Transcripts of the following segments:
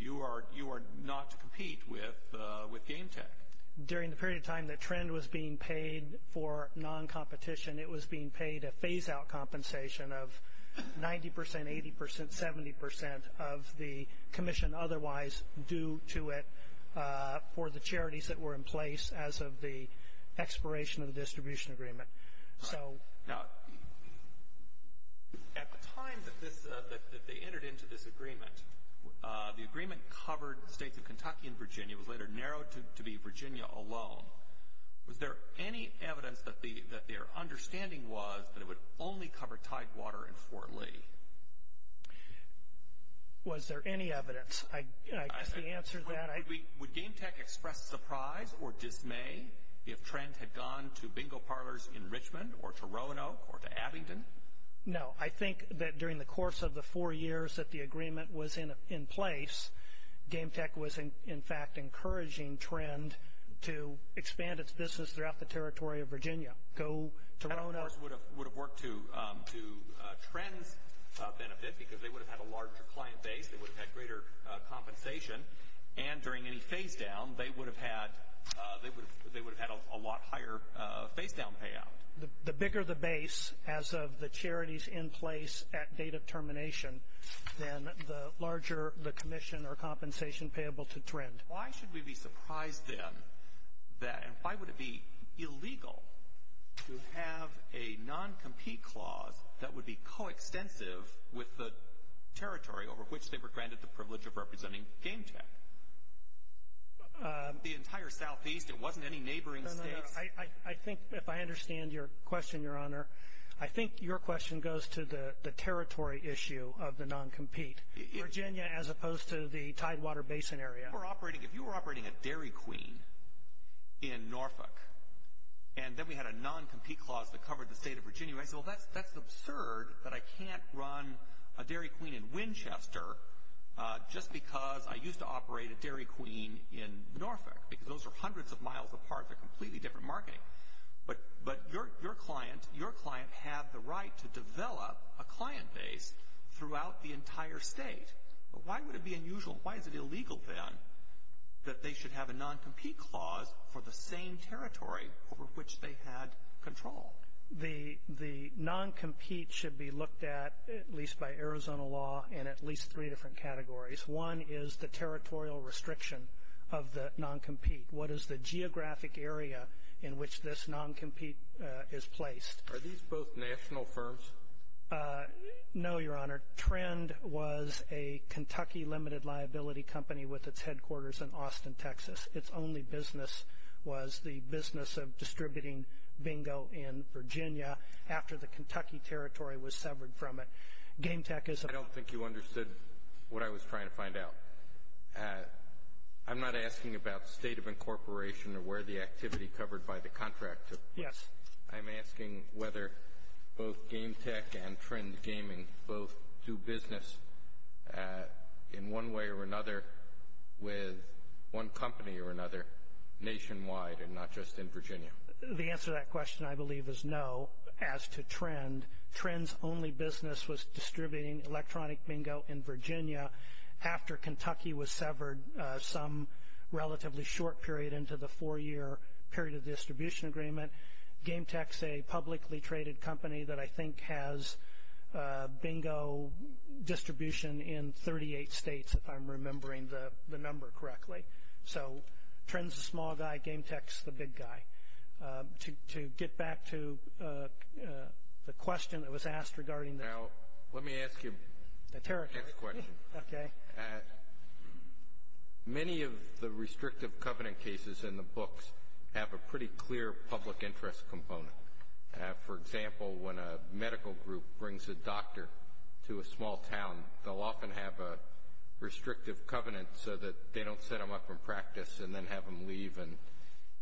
Richard Chambliss, Appellant, Trend Gaming Richard Chambliss, Appellant, Trend Gaming Richard Chambliss, Appellant, Trend Gaming Richard Chambliss, Appellant, Trend Gaming Richard Chambliss, Appellant, Trend Gaming Would GameTek express surprise or dismay if Trend had gone to bingo parlors in Richmond or to Roanoke or to Abington? No, I think that during the course of the four years that the agreement was in place, GameTek was in fact encouraging Trend to expand its business throughout the territory of Virginia. That, of course, would have worked to Trend's benefit because they would have had a larger client base, they would have had greater compensation, and during any phase-down, they would have had a lot higher phase-down payout. The bigger the base as of the charities in place at date of termination, then the larger the commission or compensation payable to Trend. Why should we be surprised then that, and why would it be illegal to have a non-compete clause that would be co-extensive with the territory over which they were granted the privilege of representing GameTek? The entire southeast, it wasn't any neighboring states. I think, if I understand your question, Your Honor, I think your question goes to the territory issue of the non-compete, Virginia as opposed to the Tidewater Basin area. If you were operating a Dairy Queen in Norfolk, and then we had a non-compete clause that covered the state of Virginia, I'd say, well, that's absurd that I can't run a Dairy Queen in Winchester just because I used to operate a Dairy Queen in Norfolk, because those are hundreds of miles apart. They're completely different marketing. But your client had the right to develop a client base throughout the entire state. But why would it be unusual, why is it illegal, then, that they should have a non-compete clause for the same territory over which they had control? The non-compete should be looked at, at least by Arizona law, in at least three different categories. One is the territorial restriction of the non-compete. What is the geographic area in which this non-compete is placed? Are these both national firms? No, Your Honor. Trend was a Kentucky limited liability company with its headquarters in Austin, Texas. Its only business was the business of distributing bingo in Virginia after the Kentucky territory was severed from it. Game Tech is a- I don't think you understood what I was trying to find out. I'm not asking about state of incorporation or where the activity covered by the contract took place. Yes. I'm asking whether both Game Tech and Trend Gaming both do business in one way or another with one company or another nationwide and not just in Virginia. The answer to that question, I believe, is no as to Trend. Trend's only business was distributing electronic bingo in Virginia after Kentucky was severed some relatively short period into the four-year period of distribution agreement. Game Tech's a publicly traded company that I think has bingo distribution in 38 states, if I'm remembering the number correctly. So Trend's the small guy. Game Tech's the big guy. To get back to the question that was asked regarding the- Now, let me ask you- The territorial. Okay. Many of the restrictive covenant cases in the books have a pretty clear public interest component. For example, when a medical group brings a doctor to a small town, they'll often have a restrictive covenant so that they don't set him up in practice and then have him leave and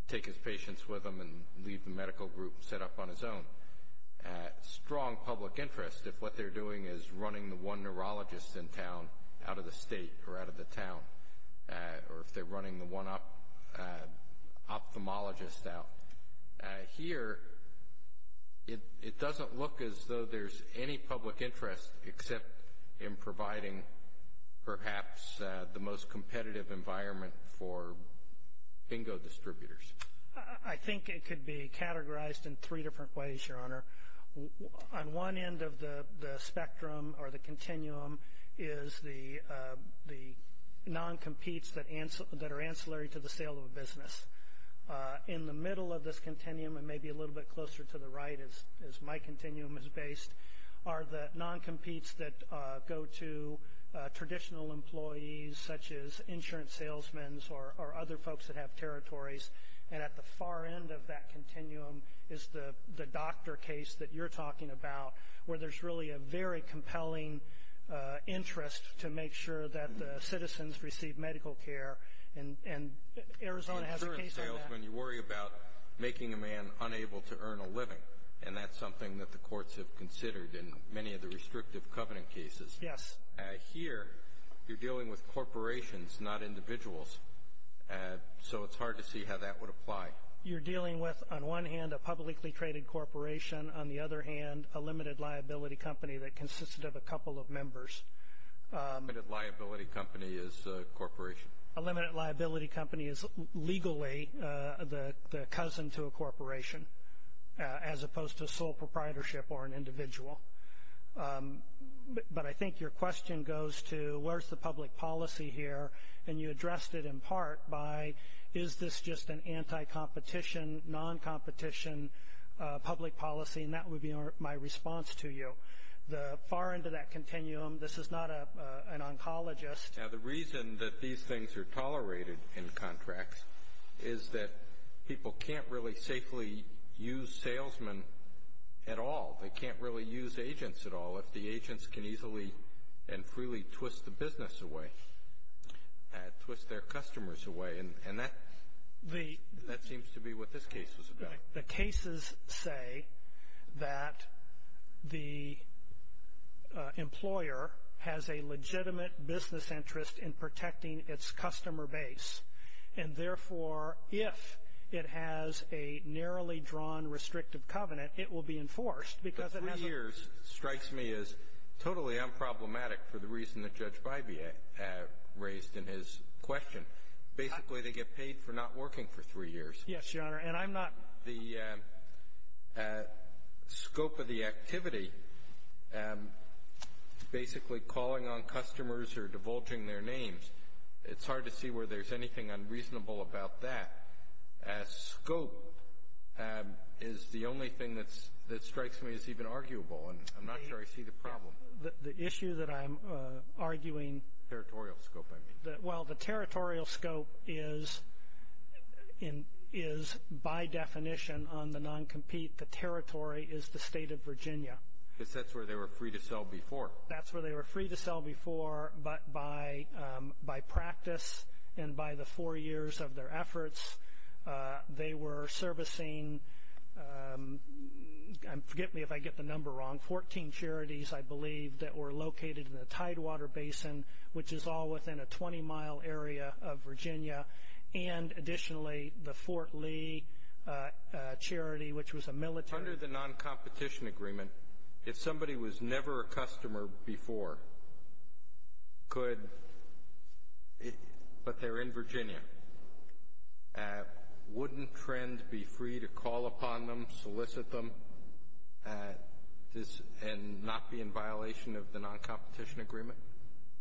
take his patients with him and leave the medical group set up on his own. Strong public interest if what they're doing is running the one neurologist in town out of the state or out of the town or if they're running the one ophthalmologist out. Here, it doesn't look as though there's any public interest except in providing perhaps the most competitive environment for bingo distributors. I think it could be categorized in three different ways, Your Honor. On one end of the spectrum or the continuum is the non-competes that are ancillary to the sale of a business. In the middle of this continuum and maybe a little bit closer to the right, as my continuum is based, are the non-competes that go to traditional employees such as insurance salesmen or other folks that have territories. And at the far end of that continuum is the doctor case that you're talking about where there's really a very compelling interest to make sure that the citizens receive medical care. And Arizona has a case on that. As an insurance salesman, you worry about making a man unable to earn a living, and that's something that the courts have considered in many of the restrictive covenant cases. Yes. Here, you're dealing with corporations, not individuals. So it's hard to see how that would apply. You're dealing with, on one hand, a publicly traded corporation. On the other hand, a limited liability company that consisted of a couple of members. A limited liability company is a corporation. As opposed to sole proprietorship or an individual. But I think your question goes to, where's the public policy here? And you addressed it in part by, is this just an anti-competition, non-competition public policy? And that would be my response to you. The far end of that continuum, this is not an oncologist. Now, the reason that these things are tolerated in contracts is that people can't really safely use salesmen at all. They can't really use agents at all if the agents can easily and freely twist the business away, twist their customers away. And that seems to be what this case is about. But the cases say that the employer has a legitimate business interest in protecting its customer base. And, therefore, if it has a narrowly drawn restrictive covenant, it will be enforced because it has a ---- The three years strikes me as totally unproblematic for the reason that Judge Bybee raised in his question. Basically, they get paid for not working for three years. Yes, Your Honor. And I'm not ---- The scope of the activity, basically calling on customers or divulging their names, it's hard to see where there's anything unreasonable about that. Scope is the only thing that strikes me as even arguable, and I'm not sure I see the problem. The issue that I'm arguing ---- Territorial scope, I mean. Well, the territorial scope is, by definition, on the non-compete. The territory is the state of Virginia. Because that's where they were free to sell before. That's where they were free to sell before. But by practice and by the four years of their efforts, they were servicing, forgive me if I get the number wrong, 14 charities, I believe, that were located in the Tidewater Basin, which is all within a 20-mile area of Virginia, and additionally the Fort Lee charity, which was a military ---- Under the non-competition agreement, if somebody was never a customer before, could ---- but they're in Virginia, wouldn't TRND be free to call upon them, solicit them, and not be in violation of the non-competition agreement?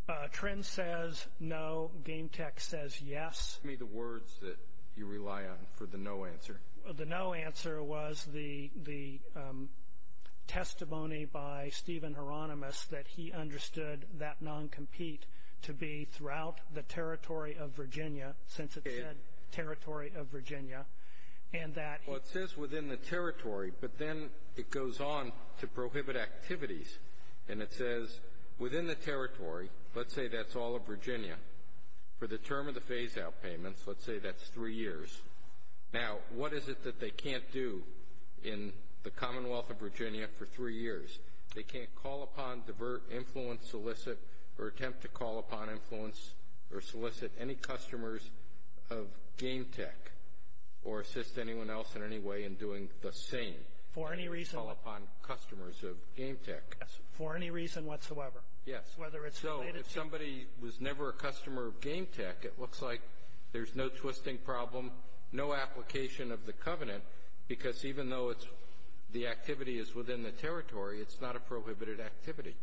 TRND says no. Game Tech says yes. Give me the words that you rely on for the no answer. The no answer was the testimony by Stephen Hieronymus that he understood that non-compete to be throughout the territory of Virginia, since it said territory of Virginia, and that he ---- Well, it says within the territory, but then it goes on to prohibit activities. And it says within the territory, let's say that's all of Virginia. For the term of the phase-out payments, let's say that's three years. Now, what is it that they can't do in the Commonwealth of Virginia for three years? They can't call upon, divert, influence, solicit, or attempt to call upon, influence, or solicit any customers of Game Tech or assist anyone else in any way in doing the same. For any reason ---- Call upon customers of Game Tech. For any reason whatsoever. Yes. Whether it's related to ---- No application of the covenant, because even though the activity is within the territory, it's not a prohibited activity.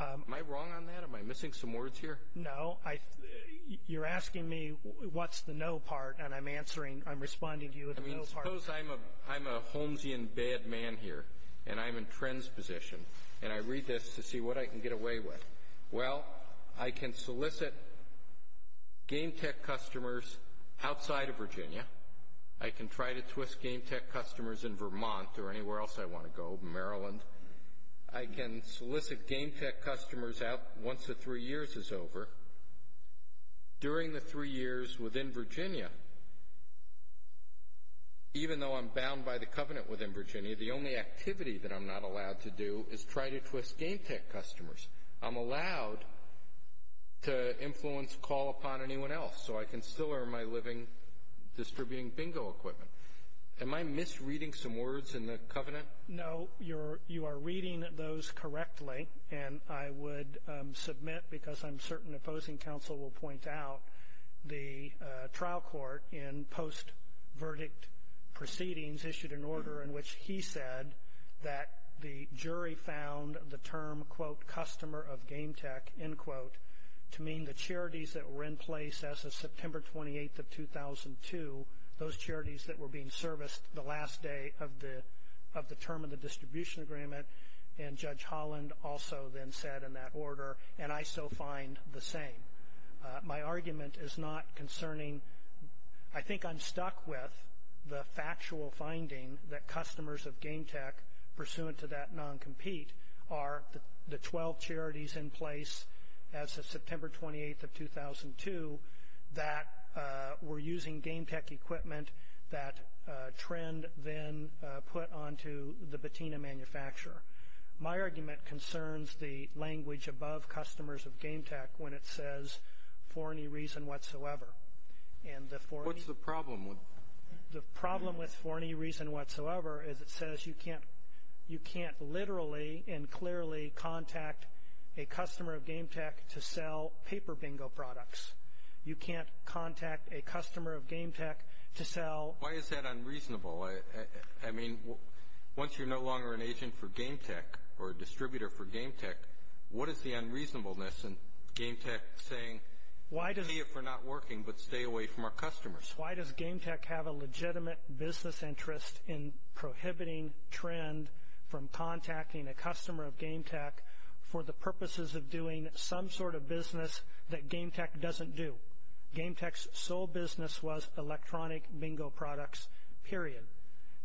Am I wrong on that? Am I missing some words here? No. You're asking me what's the no part, and I'm answering, I'm responding to you with the no part. I mean, suppose I'm a Holmesian bad man here, and I'm in Trent's position, and I read this to see what I can get away with. Well, I can solicit Game Tech customers outside of Virginia. I can try to twist Game Tech customers in Vermont or anywhere else I want to go, Maryland. I can solicit Game Tech customers out once the three years is over. During the three years within Virginia, even though I'm bound by the covenant within Virginia, the only activity that I'm not allowed to do is try to twist Game Tech customers. I'm allowed to influence call upon anyone else, so I can still earn my living distributing bingo equipment. Am I misreading some words in the covenant? No. You are reading those correctly, and I would submit, because I'm certain opposing counsel will point out, the trial court in post-verdict proceedings issued an order in which he said that the jury found the term, quote, customer of Game Tech, end quote, to mean the charities that were in place as of September 28th of 2002, those charities that were being serviced the last day of the term of the distribution agreement, and Judge Holland also then said in that order, and I so find the same. My argument is not concerning. I think I'm stuck with the factual finding that customers of Game Tech, pursuant to that non-compete, are the 12 charities in place as of September 28th of 2002 that were using Game Tech equipment that Trend then put onto the patina manufacturer. My argument concerns the language above customers of Game Tech when it says for any reason whatsoever. What's the problem? The problem with for any reason whatsoever is it says you can't literally and clearly contact a customer of Game Tech to sell paper bingo products. You can't contact a customer of Game Tech to sell. Why is that unreasonable? I mean, once you're no longer an agent for Game Tech or a distributor for Game Tech, what is the unreasonableness in Game Tech saying, see if we're not working, but stay away from our customers? Why does Game Tech have a legitimate business interest in prohibiting Trend from contacting a customer of Game Tech for the purposes of doing some sort of business that Game Tech doesn't do? Game Tech's sole business was electronic bingo products, period.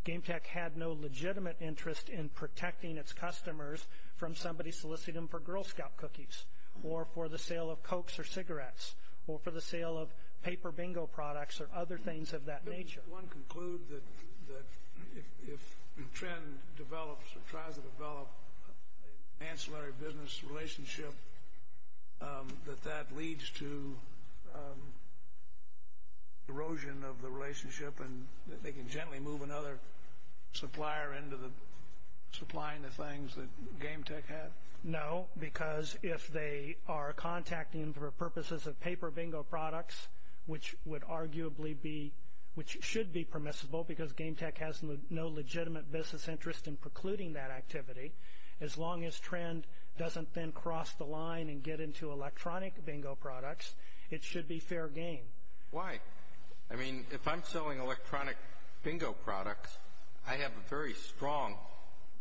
Game Tech had no legitimate interest in protecting its customers from somebody soliciting them for Girl Scout cookies or for the sale of Cokes or cigarettes or for the sale of paper bingo products or other things of that nature. Does one conclude that if Trend develops or tries to develop an ancillary business relationship, that that leads to erosion of the relationship and that they can gently move another supplier into supplying the things that Game Tech had? No, because if they are contacting for purposes of paper bingo products, which should be permissible because Game Tech has no legitimate business interest in precluding that activity, as long as Trend doesn't then cross the line and get into electronic bingo products, it should be fair game. Why? I mean, if I'm selling electronic bingo products, I have a very strong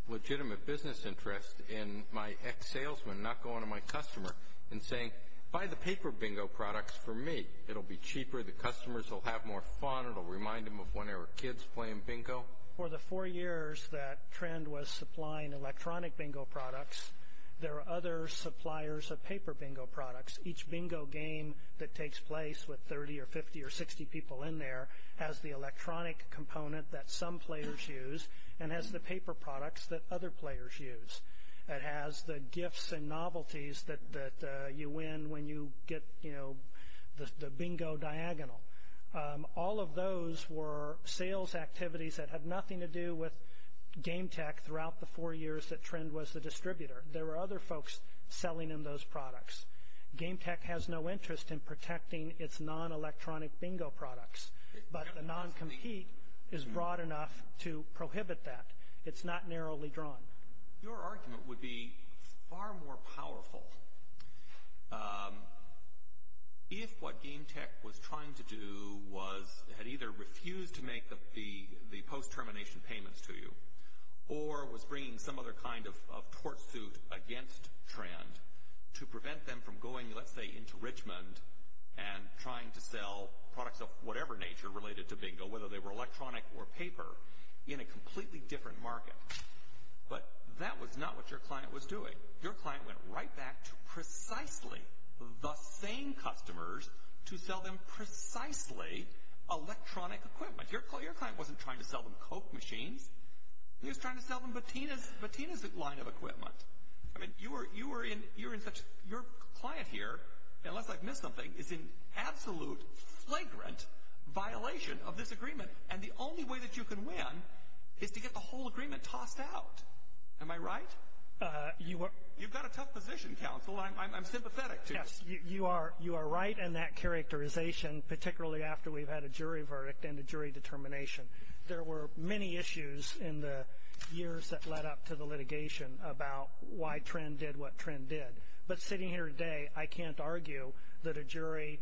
legitimate business interest in my ex-salesman not going to my customer and saying, buy the paper bingo products for me. It will be cheaper. The customers will have more fun. It will remind them of when they were kids playing bingo. For the four years that Trend was supplying electronic bingo products, there are other suppliers of paper bingo products. Each bingo game that takes place with 30 or 50 or 60 people in there has the electronic component that some players use and has the paper products that other players use. It has the gifts and novelties that you win when you get the bingo diagonal. All of those were sales activities that had nothing to do with Game Tech throughout the four years that Trend was the distributor. There were other folks selling them those products. Game Tech has no interest in protecting its non-electronic bingo products, but the non-compete is broad enough to prohibit that. It's not narrowly drawn. Your argument would be far more powerful. If what Game Tech was trying to do was it had either refused to make the post-termination payments to you or was bringing some other kind of tort suit against Trend to prevent them from going, let's say, into Richmond and trying to sell products of whatever nature related to bingo, whether they were electronic or paper, in a completely different market. But that was not what your client was doing. Your client went right back to precisely the same customers to sell them precisely electronic equipment. Your client wasn't trying to sell them Coke machines. He was trying to sell them Bettina's line of equipment. I mean, your client here, unless I've missed something, is in absolute flagrant violation of this agreement. And the only way that you can win is to get the whole agreement tossed out. Am I right? You've got a tough position, counsel. I'm sympathetic to you. Yes, you are right in that characterization, particularly after we've had a jury verdict and a jury determination. There were many issues in the years that led up to the litigation about why Trend did what Trend did. But sitting here today, I can't argue that a jury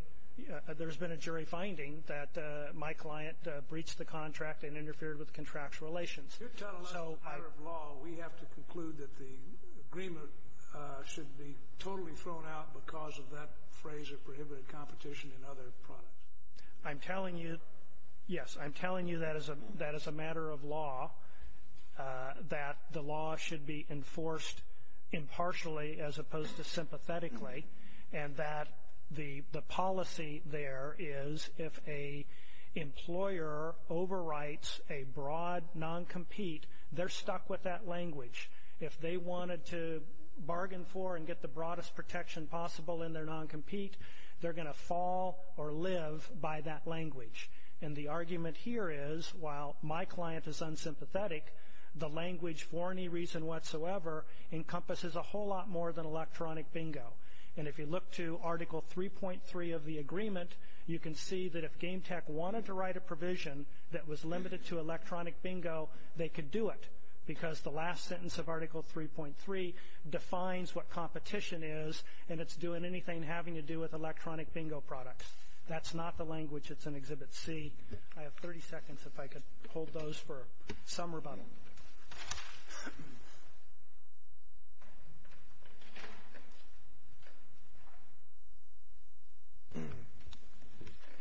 ‑‑ there's been a jury finding that my client breached the contract and interfered with contractual relations. You're telling us as a matter of law we have to conclude that the agreement should be totally thrown out because of that phrase of prohibited competition in other products. I'm telling you, yes, I'm telling you that as a matter of law, that the law should be enforced impartially as opposed to sympathetically and that the policy there is if an employer overwrites a broad noncompete, they're stuck with that language. If they wanted to bargain for and get the broadest protection possible in their noncompete, they're going to fall or live by that language. And the argument here is while my client is unsympathetic, the language for any reason whatsoever encompasses a whole lot more than electronic bingo. And if you look to Article 3.3 of the agreement, you can see that if Game Tech wanted to write a provision that was limited to electronic bingo, they could do it because the last sentence of Article 3.3 defines what competition is and it's doing anything having to do with electronic bingo products. That's not the language that's in Exhibit C. I have 30 seconds if I could hold those for some rebuttal.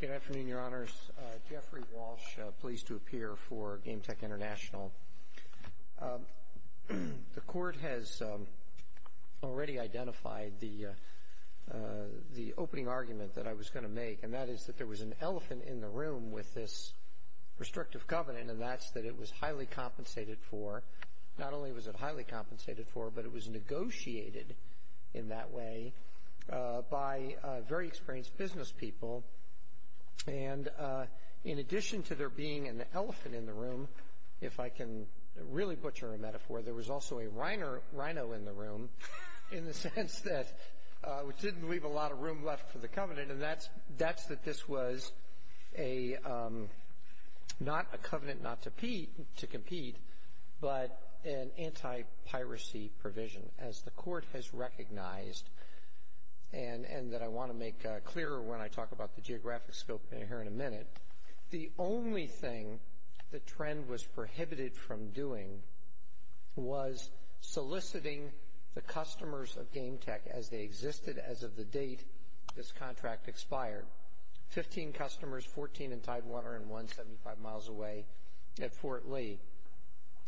Good afternoon, Your Honors. Jeffrey Walsh, pleased to appear for Game Tech International. The Court has already identified the opening argument that I was going to make, and that is that there was an elephant in the room with this restrictive covenant, and that's that it was highly compensated for. Not only was it highly compensated for, but it was negotiated in that way by very experienced business people. And in addition to there being an elephant in the room, if I can really butcher a metaphor, there was also a rhino in the room in the sense that it didn't leave a lot of room left for the covenant, and that's that this was not a covenant not to compete, but an anti-piracy provision, as the Court has recognized and that I want to make clearer when I talk about the geographic scope here in a minute. The only thing the trend was prohibited from doing was soliciting the customers of Game Tech as they existed. As of the date, this contract expired. Fifteen customers, 14 in Tidewater, and one 75 miles away at Fort Lee.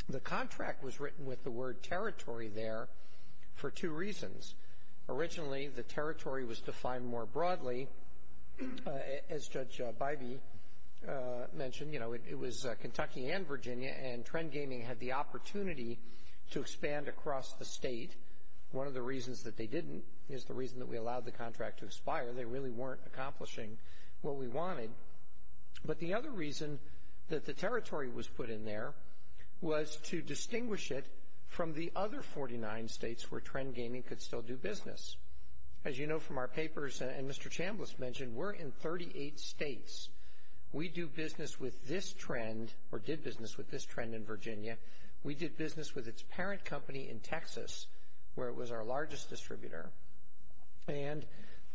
The contract was written with the word territory there for two reasons. Originally, the territory was defined more broadly. As Judge Bybee mentioned, you know, it was Kentucky and Virginia, and Trend Gaming had the opportunity to expand across the state. One of the reasons that they didn't is the reason that we allowed the contract to expire. They really weren't accomplishing what we wanted. But the other reason that the territory was put in there was to distinguish it from the other 49 states where Trend Gaming could still do business. As you know from our papers, and Mr. Chambliss mentioned, we're in 38 states. We do business with this trend or did business with this trend in Virginia. We did business with its parent company in Texas, where it was our largest distributor. And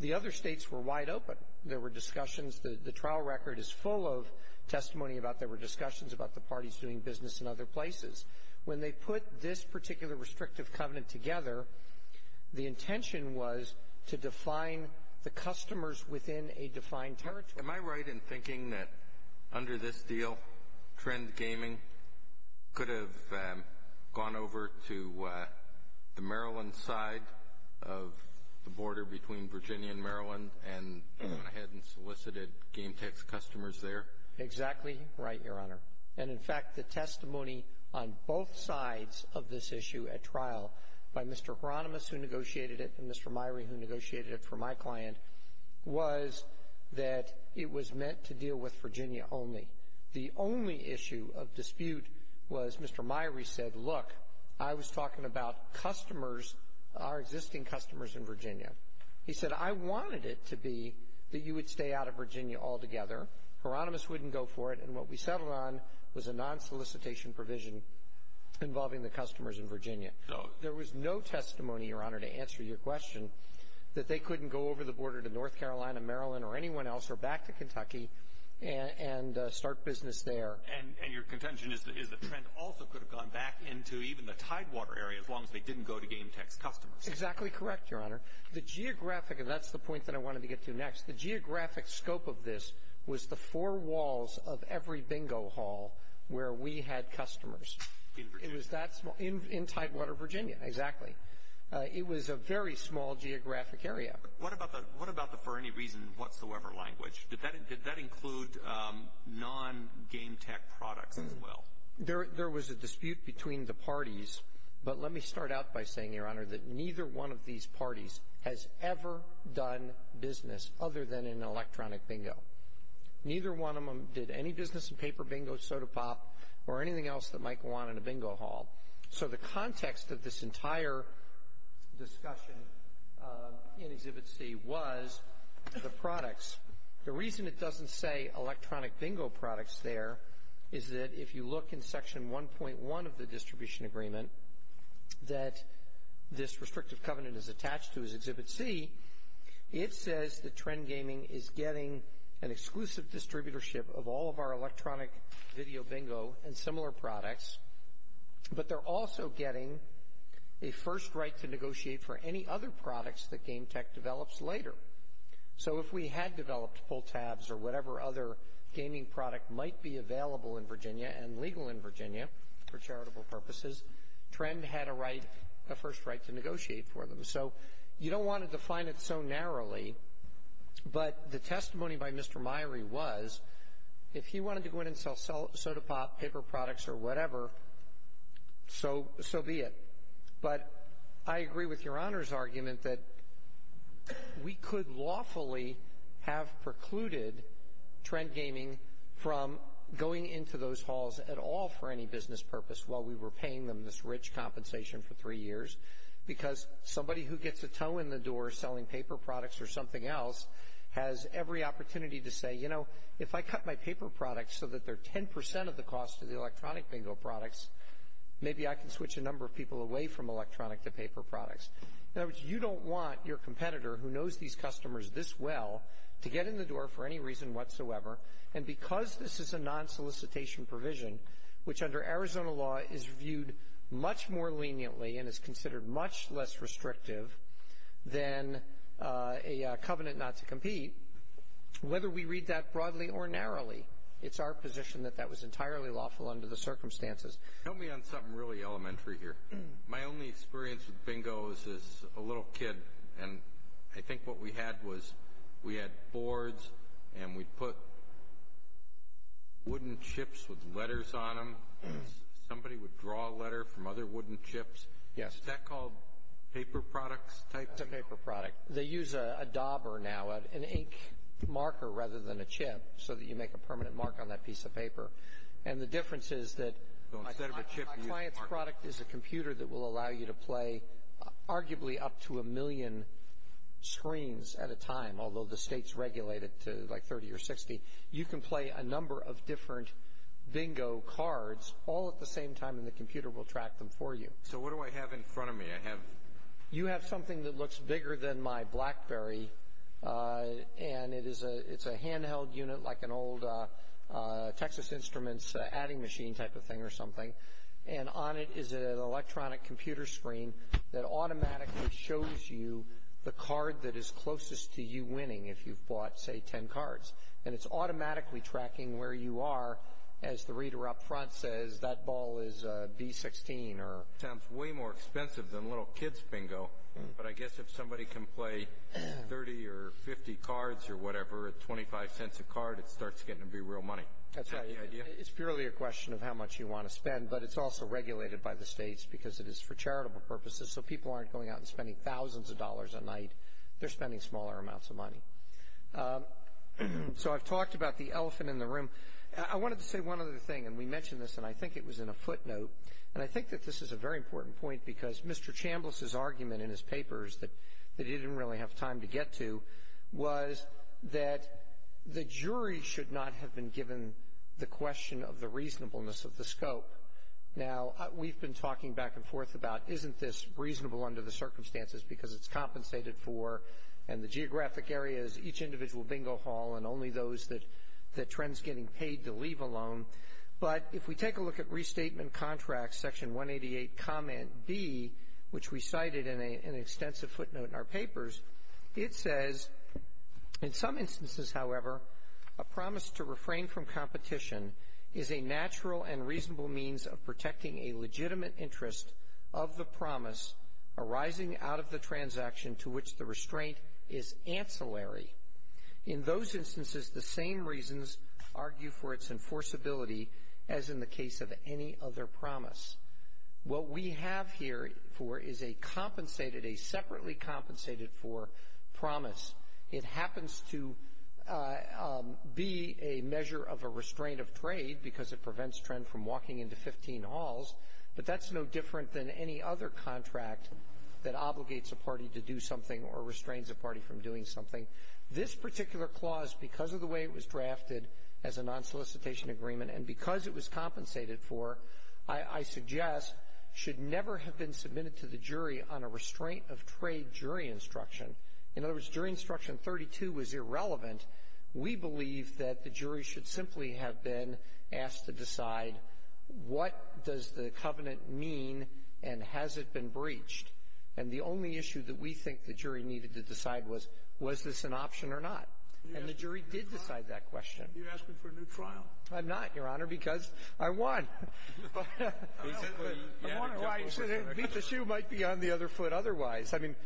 the other states were wide open. There were discussions. The trial record is full of testimony about there were discussions about the parties doing business in other places. When they put this particular restrictive covenant together, the intention was to define the customers within a defined territory. Am I right in thinking that under this deal, Trend Gaming could have gone over to the Maryland side of the border between Virginia and Maryland and gone ahead and solicited GameTex customers there? Exactly right, Your Honor. And, in fact, the testimony on both sides of this issue at trial by Mr. Hieronymus, who negotiated it, and Mr. Myrie, who negotiated it for my client, was that it was meant to deal with Virginia only. The only issue of dispute was Mr. Myrie said, look, I was talking about customers, our existing customers in Virginia. He said, I wanted it to be that you would stay out of Virginia altogether. Hieronymus wouldn't go for it. And what we settled on was a non-solicitation provision involving the customers in Virginia. So there was no testimony, Your Honor, to answer your question that they couldn't go over the border to North Carolina, Maryland, or anyone else or back to Kentucky and start business there. And your contention is that Trend also could have gone back into even the Tidewater area, as long as they didn't go to GameTex customers. Exactly correct, Your Honor. The geographic, and that's the point that I wanted to get to next, the geographic scope of this was the four walls of every bingo hall where we had customers. In Virginia? In Tidewater, Virginia, exactly. It was a very small geographic area. What about the for any reason whatsoever language? Did that include non-GameTex products as well? There was a dispute between the parties, but let me start out by saying, Your Honor, that neither one of these parties has ever done business other than in electronic bingo. Neither one of them did any business in paper bingo, soda pop, or anything else that Mike wanted in a bingo hall. So the context of this entire discussion in Exhibit C was the products. The reason it doesn't say electronic bingo products there is that if you look in Section 1.1 of the distribution agreement that this restrictive covenant is attached to as Exhibit C, it says that Trend Gaming is getting an exclusive distributorship of all of our electronic video bingo and similar products, but they're also getting a first right to negotiate for any other products that GameTex develops later. So if we had developed pull tabs or whatever other gaming product might be available in Virginia and legal in Virginia for charitable purposes, Trend had a right, a first right to negotiate for them. So you don't want to define it so narrowly, but the testimony by Mr. Myrie was if he wanted to go in and sell soda pop, paper products, or whatever, so be it. But I agree with Your Honor's argument that we could lawfully have precluded Trend Gaming from going into those halls at all for any business purpose while we were paying them this rich compensation for three years because somebody who gets a toe in the door selling paper products or something else has every opportunity to say, you know, if I cut my paper products so that they're 10% of the cost of the electronic bingo products, maybe I can switch a number of people away from electronic to paper products. In other words, you don't want your competitor who knows these customers this well to get in the door for any reason whatsoever. And because this is a non-solicitation provision, which under Arizona law is viewed much more leniently and is considered much less restrictive than a covenant not to compete, whether we read that broadly or narrowly, it's our position that that was entirely lawful under the circumstances. Help me on something really elementary here. My only experience with bingos as a little kid, and I think what we had was we had boards and we'd put wooden chips with letters on them. Somebody would draw a letter from other wooden chips. Yes. Is that called paper products type bingo? That's a paper product. They use a dauber now, an ink marker rather than a chip, so that you make a permanent mark on that piece of paper. And the difference is that my client's product is a computer that will allow you to play arguably up to a million screens at a time, although the state's regulated to like 30 or 60. You can play a number of different bingo cards all at the same time, and the computer will track them for you. So what do I have in front of me? You have something that looks bigger than my BlackBerry, and it's a handheld unit like an old Texas Instruments adding machine type of thing or something. And on it is an electronic computer screen that automatically shows you the card that is closest to you winning, if you've bought, say, 10 cards. And it's automatically tracking where you are as the reader up front says, that ball is B16. It sounds way more expensive than little kids bingo, but I guess if somebody can play 30 or 50 cards or whatever at 25 cents a card, it starts getting to be real money. That's right. It's purely a question of how much you want to spend, but it's also regulated by the states because it is for charitable purposes, so people aren't going out and spending thousands of dollars a night. They're spending smaller amounts of money. So I've talked about the elephant in the room. I wanted to say one other thing, and we mentioned this, and I think it was in a footnote. And I think that this is a very important point because Mr. Chambliss' argument in his papers that he didn't really have time to get to was that the jury should not have been given the question of the reasonableness of the scope. Now, we've been talking back and forth about isn't this reasonable under the circumstances because it's compensated for and the geographic area is each individual bingo hall and only those that Trent's getting paid to leave alone. But if we take a look at Restatement Contracts, Section 188, Comment B, which we cited in an extensive footnote in our papers, it says, in some instances, however, a promise to refrain from competition is a natural and reasonable means of protecting a legitimate interest of the promise arising out of the transaction to which the restraint is ancillary. In those instances, the same reasons argue for its enforceability as in the case of any other promise. What we have here for is a compensated, a separately compensated for promise. It happens to be a measure of a restraint of trade because it prevents Trent from walking into 15 halls, but that's no different than any other contract that obligates a party to do something or restrains a party from doing something. This particular clause, because of the way it was drafted as a non-solicitation agreement and because it was compensated for, I suggest, should never have been submitted to the jury on a restraint of trade jury instruction. In other words, jury instruction 32 was irrelevant. We believe that the jury should simply have been asked to decide what does the covenant mean and has it been breached. And the only issue that we think the jury needed to decide was, was this an option or not. And the jury did decide that question. You're asking for a new trial. I'm not, Your Honor, because I won. I won or I beat the shoe might be on the other foot otherwise. I mean,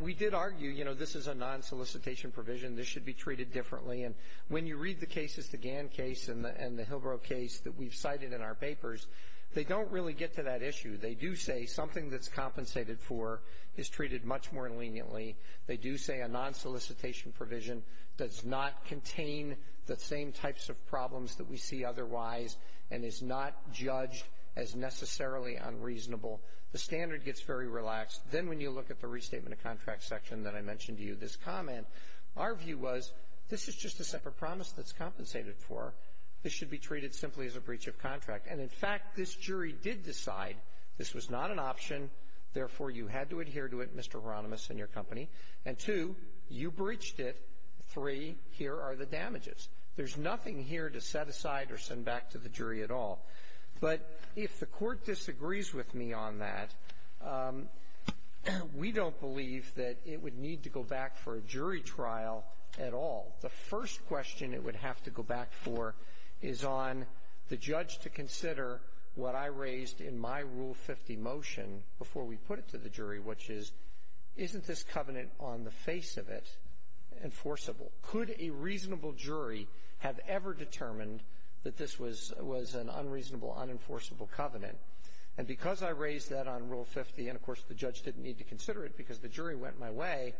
we did argue, you know, this is a non-solicitation provision. This should be treated differently. And when you read the cases, the Gann case and the Hillborough case that we've cited in our papers, they don't really get to that issue. They do say something that's compensated for is treated much more leniently. They do say a non-solicitation provision does not contain the same types of problems that we see otherwise and is not judged as necessarily unreasonable. The standard gets very relaxed. Then when you look at the restatement of contract section that I mentioned to you, this comment, our view was this is just a separate promise that's compensated for. This should be treated simply as a breach of contract. And, in fact, this jury did decide this was not an option. Therefore, you had to adhere to it, Mr. Hieronymus and your company. And, two, you breached it. Three, here are the damages. There's nothing here to set aside or send back to the jury at all. But if the Court disagrees with me on that, we don't believe that it would need to go back for a jury trial at all. The first question it would have to go back for is on the judge to consider what I raised in my Rule 50 motion before we put it to the jury, which is, isn't this covenant on the face of it enforceable? Could a reasonable jury have ever determined that this was an unreasonable, unenforceable covenant? And because I raised that on Rule 50, and, of course, the judge didn't need to consider it because the jury went my way,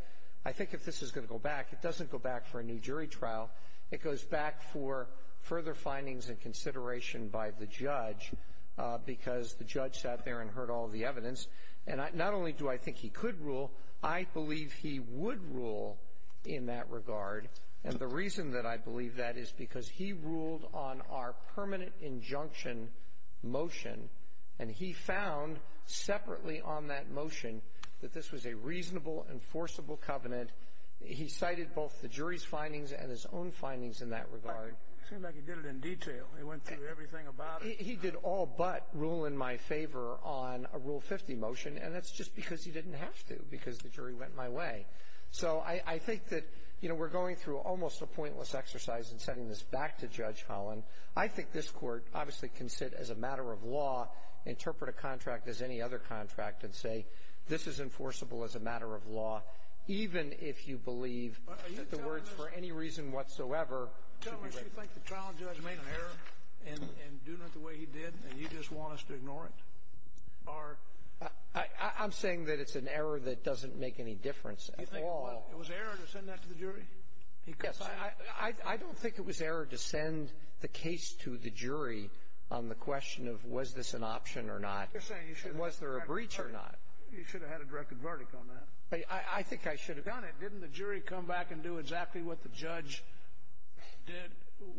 I think if this is going to go back, it doesn't go back for a new jury trial. It goes back for further findings and consideration by the judge because the judge sat there and heard all the evidence. And not only do I think he could rule, I believe he would rule in that regard. And the reason that I believe that is because he ruled on our permanent injunction motion, and he found separately on that motion that this was a reasonable, enforceable covenant. He cited both the jury's findings and his own findings in that regard. It seems like he did it in detail. He went through everything about it. He did all but rule in my favor on a Rule 50 motion, and that's just because he didn't have to, because the jury went my way. So I think that, you know, we're going through almost a pointless exercise in sending this back to Judge Holland. I think this Court obviously can sit as a matter of law, interpret a contract as any other contract, and say this is enforceable as a matter of law, even if you believe that the words, for any reason whatsoever, should be raised. Scalia. Tell me, do you think the trial judge made an error in doing it the way he did, and you just want us to ignore it? Or… Dreeben. I'm saying that it's an error that doesn't make any difference at all. Scalia. Do you think it was error to send that to the jury? Dreeben. Yes. I don't think it was error to send the case to the jury on the question of was this an option or not. You're saying you should have had a direct verdict. Was there a breach or not? You should have had a direct verdict on that. I think I should have. Had you done it, didn't the jury come back and do exactly what the judge did,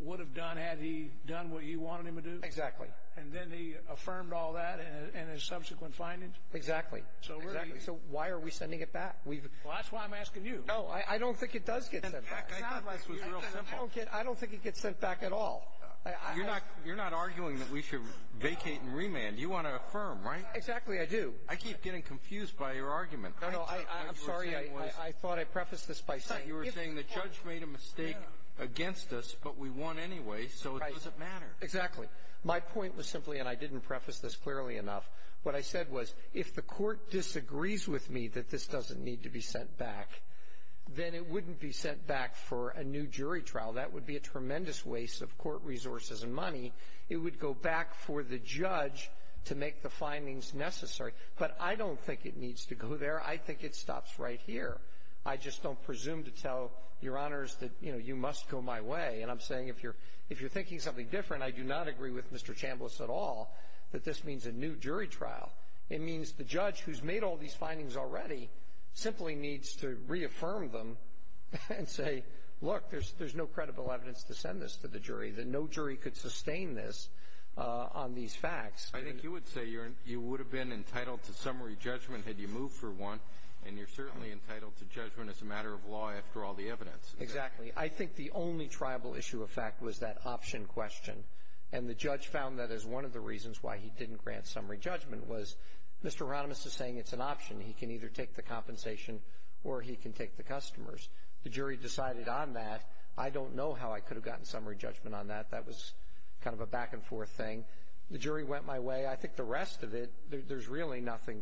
would have done had he done what you wanted him to do? Exactly. And then he affirmed all that in his subsequent findings? Exactly. Exactly. So why are we sending it back? Well, that's why I'm asking you. No, I don't think it does get sent back. I don't think it gets sent back at all. You're not arguing that we should vacate and remand. You want to affirm, right? Exactly. I do. I keep getting confused by your argument. No, no. I'm sorry. I thought I prefaced this by saying you were saying the judge made a mistake against us, but we won anyway, so it doesn't matter. Exactly. My point was simply, and I didn't preface this clearly enough, what I said was if the court disagrees with me that this doesn't need to be sent back, then it wouldn't be sent back for a new jury trial. That would be a tremendous waste of court resources and money. It would go back for the judge to make the findings necessary. But I don't think it needs to go there. I think it stops right here. I just don't presume to tell your honors that, you know, you must go my way. And I'm saying if you're thinking something different, I do not agree with Mr. Chambliss at all that this means a new jury trial. It means the judge who's made all these findings already simply needs to reaffirm them and say, look, there's no credible evidence to send this to the jury, that no one has seen this on these facts. I think you would say you would have been entitled to summary judgment had you moved for one, and you're certainly entitled to judgment as a matter of law after all the evidence. Exactly. I think the only triable issue of fact was that option question. And the judge found that as one of the reasons why he didn't grant summary judgment was Mr. Ronimus is saying it's an option. He can either take the compensation or he can take the customers. The jury decided on that. I don't know how I could have gotten summary judgment on that. That was kind of a back and forth thing. The jury went my way. I think the rest of it, there's really nothing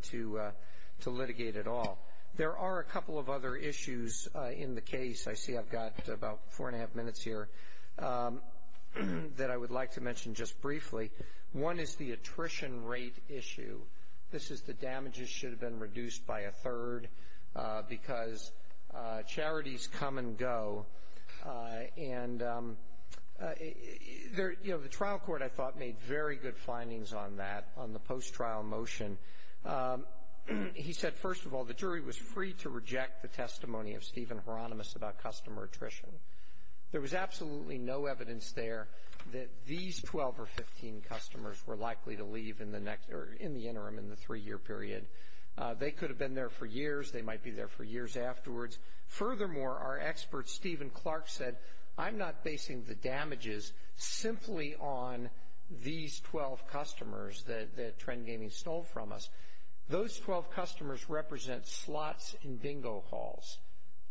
to litigate at all. There are a couple of other issues in the case. I see I've got about four and a half minutes here that I would like to mention just briefly. One is the attrition rate issue. This is the damages should have been reduced by a third because charities come and go. And, you know, the trial court, I thought, made very good findings on that, on the post-trial motion. He said, first of all, the jury was free to reject the testimony of Stephen Ronimus about customer attrition. There was absolutely no evidence there that these 12 or 15 customers were likely to leave in the interim, in the three-year period. They could have been there for years. They might be there for years afterwards. Furthermore, our expert, Stephen Clark, said, I'm not basing the damages simply on these 12 customers that Trend Gaming stole from us. Those 12 customers represent slots in bingo halls.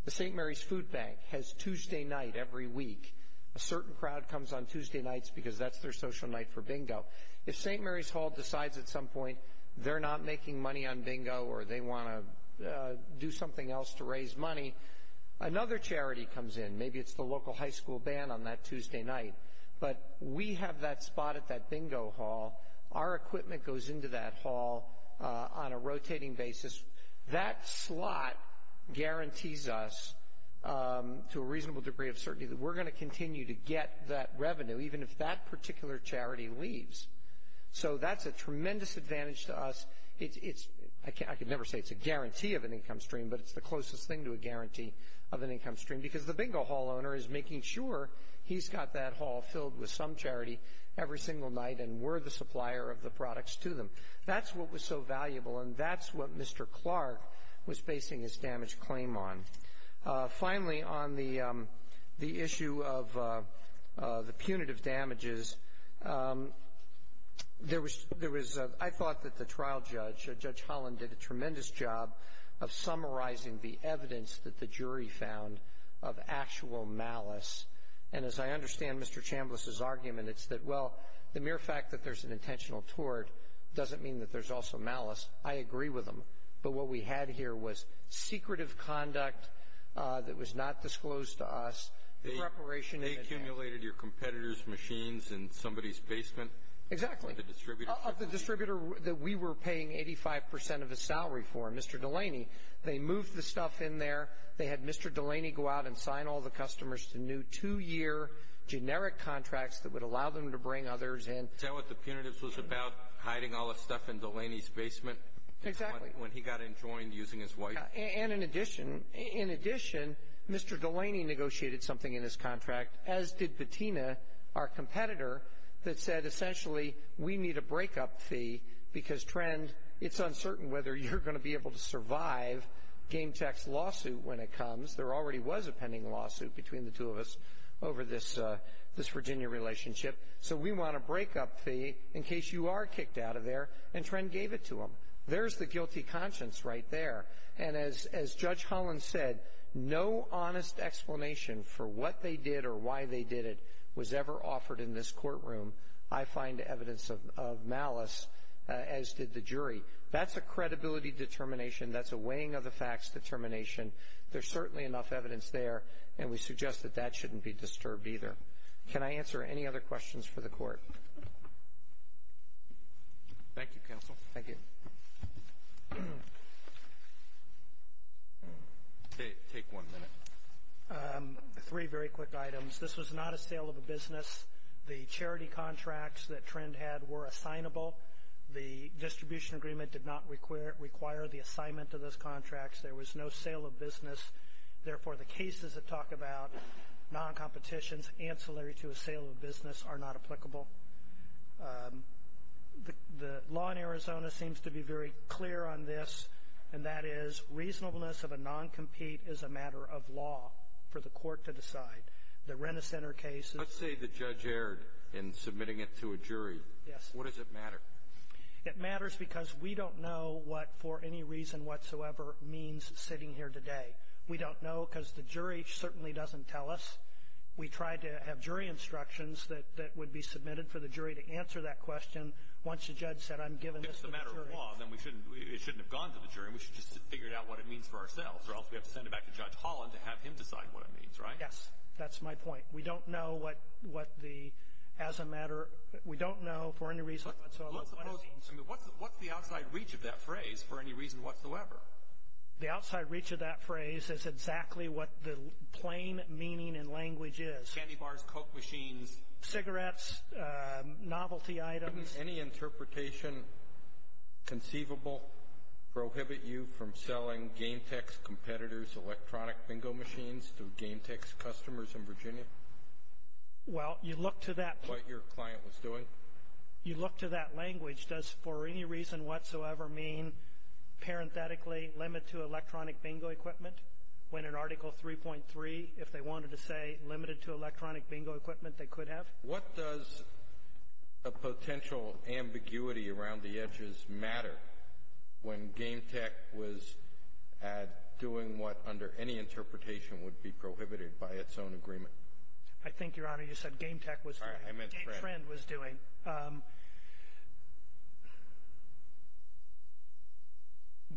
The St. Mary's Food Bank has Tuesday night every week. A certain crowd comes on Tuesday nights because that's their social night for bingo. If St. Mary's Hall decides at some point they're not making money on bingo or they want to do something else to raise money, another charity comes in. Maybe it's the local high school band on that Tuesday night. But we have that spot at that bingo hall. Our equipment goes into that hall on a rotating basis. That slot guarantees us to a reasonable degree of certainty that we're going to continue to get that revenue even if that particular charity leaves. So that's a tremendous advantage to us. I can never say it's a guarantee of an income stream, but it's the closest thing to a guarantee of an income stream because the bingo hall owner is making sure he's got that hall filled with some charity every single night and we're the supplier of the products to them. That's what was so valuable, and that's what Mr. Clark was basing his damage claim on. Finally, on the issue of the punitive damages, there was ‑‑ I thought that the trial judge, Judge Holland, did a tremendous job of summarizing the evidence that the jury found of actual malice. And as I understand Mr. Chambliss's argument, it's that, well, the mere fact that there's an intentional tort doesn't mean that there's also malice. I agree with him. But what we had here was secretive conduct that was not disclosed to us. They accumulated your competitors' machines in somebody's basement? Exactly. Of the distributor? Of the distributor that we were paying 85% of his salary for, Mr. Delaney. They moved the stuff in there. They had Mr. Delaney go out and sign all the customers to new two‑year generic contracts that would allow them to bring others in. Is that what the punitives was about? Hiding all the stuff in Delaney's basement? Exactly. When he got enjoined using his wife? And in addition, in addition, Mr. Delaney negotiated something in his contract, as did Bettina, our competitor, that said essentially we need a breakup fee because, Trend, it's uncertain whether you're going to be able to survive GameCheck's lawsuit when it comes. There already was a pending lawsuit between the two of us over this Virginia relationship. So we want a breakup fee in case you are kicked out of there. And Trend gave it to them. There's the guilty conscience right there. And as Judge Holland said, no honest explanation for what they did or why they did it was ever offered in this courtroom. I find evidence of malice, as did the jury. That's a credibility determination. That's a weighing of the facts determination. There's certainly enough evidence there, and we suggest that that shouldn't be disturbed either. Can I answer any other questions for the court? Thank you, counsel. Thank you. Take one minute. Three very quick items. This was not a sale of a business. The charity contracts that Trend had were assignable. The distribution agreement did not require the assignment of those contracts. There was no sale of business. Therefore, the cases that talk about noncompetitions ancillary to a sale of business are not applicable. The law in Arizona seems to be very clear on this, and that is reasonableness of a noncompete is a matter of law for the court to decide. The Rent-A-Center case. Let's say the judge erred in submitting it to a jury. Yes. What does it matter? It matters because we don't know what for any reason whatsoever means sitting here today. We don't know because the jury certainly doesn't tell us. We tried to have jury instructions that would be submitted for the jury to answer that question. Once the judge said, I'm giving this to the jury. If it's a matter of law, then it shouldn't have gone to the jury. We should have just figured out what it means for ourselves, or else we have to send it back to Judge Holland to have him decide what it means, right? Yes. That's my point. We don't know what the, as a matter, we don't know for any reason whatsoever what it means. What's the outside reach of that phrase, for any reason whatsoever? The outside reach of that phrase is exactly what the plain meaning and language is. Candy bars, Coke machines. Cigarettes, novelty items. Couldn't any interpretation conceivable prohibit you from selling GameTex competitors electronic bingo machines to GameTex customers in Virginia? Well, you look to that. What your client was doing. You look to that language. Does for any reason whatsoever mean, parenthetically, limit to electronic bingo equipment? When in Article 3.3, if they wanted to say limited to electronic bingo equipment, they could have? What does a potential ambiguity around the edges matter when GameTex was doing what, under any interpretation, would be prohibited by its own agreement? I think, Your Honor, you said GameTex was doing. I meant trend. GameTrend was doing.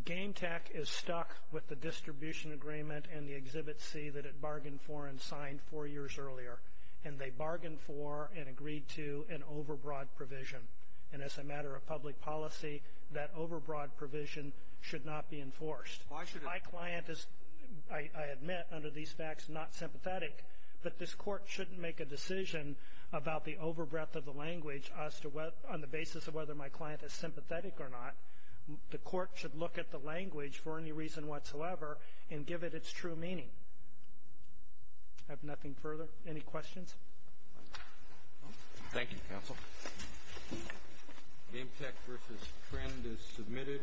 GameTech is stuck with the distribution agreement and the Exhibit C that it bargained for and signed four years earlier. And they bargained for and agreed to an overbroad provision. And as a matter of public policy, that overbroad provision should not be enforced. Why should it? My client is, I admit, under these facts, not sympathetic. But this Court shouldn't make a decision about the overbreadth of the language on the basis of whether my client is sympathetic or not. The Court should look at the language for any reason whatsoever and give it its true meaning. I have nothing further. Any questions? Thank you, Counsel. GameTex v. Trend is submitted.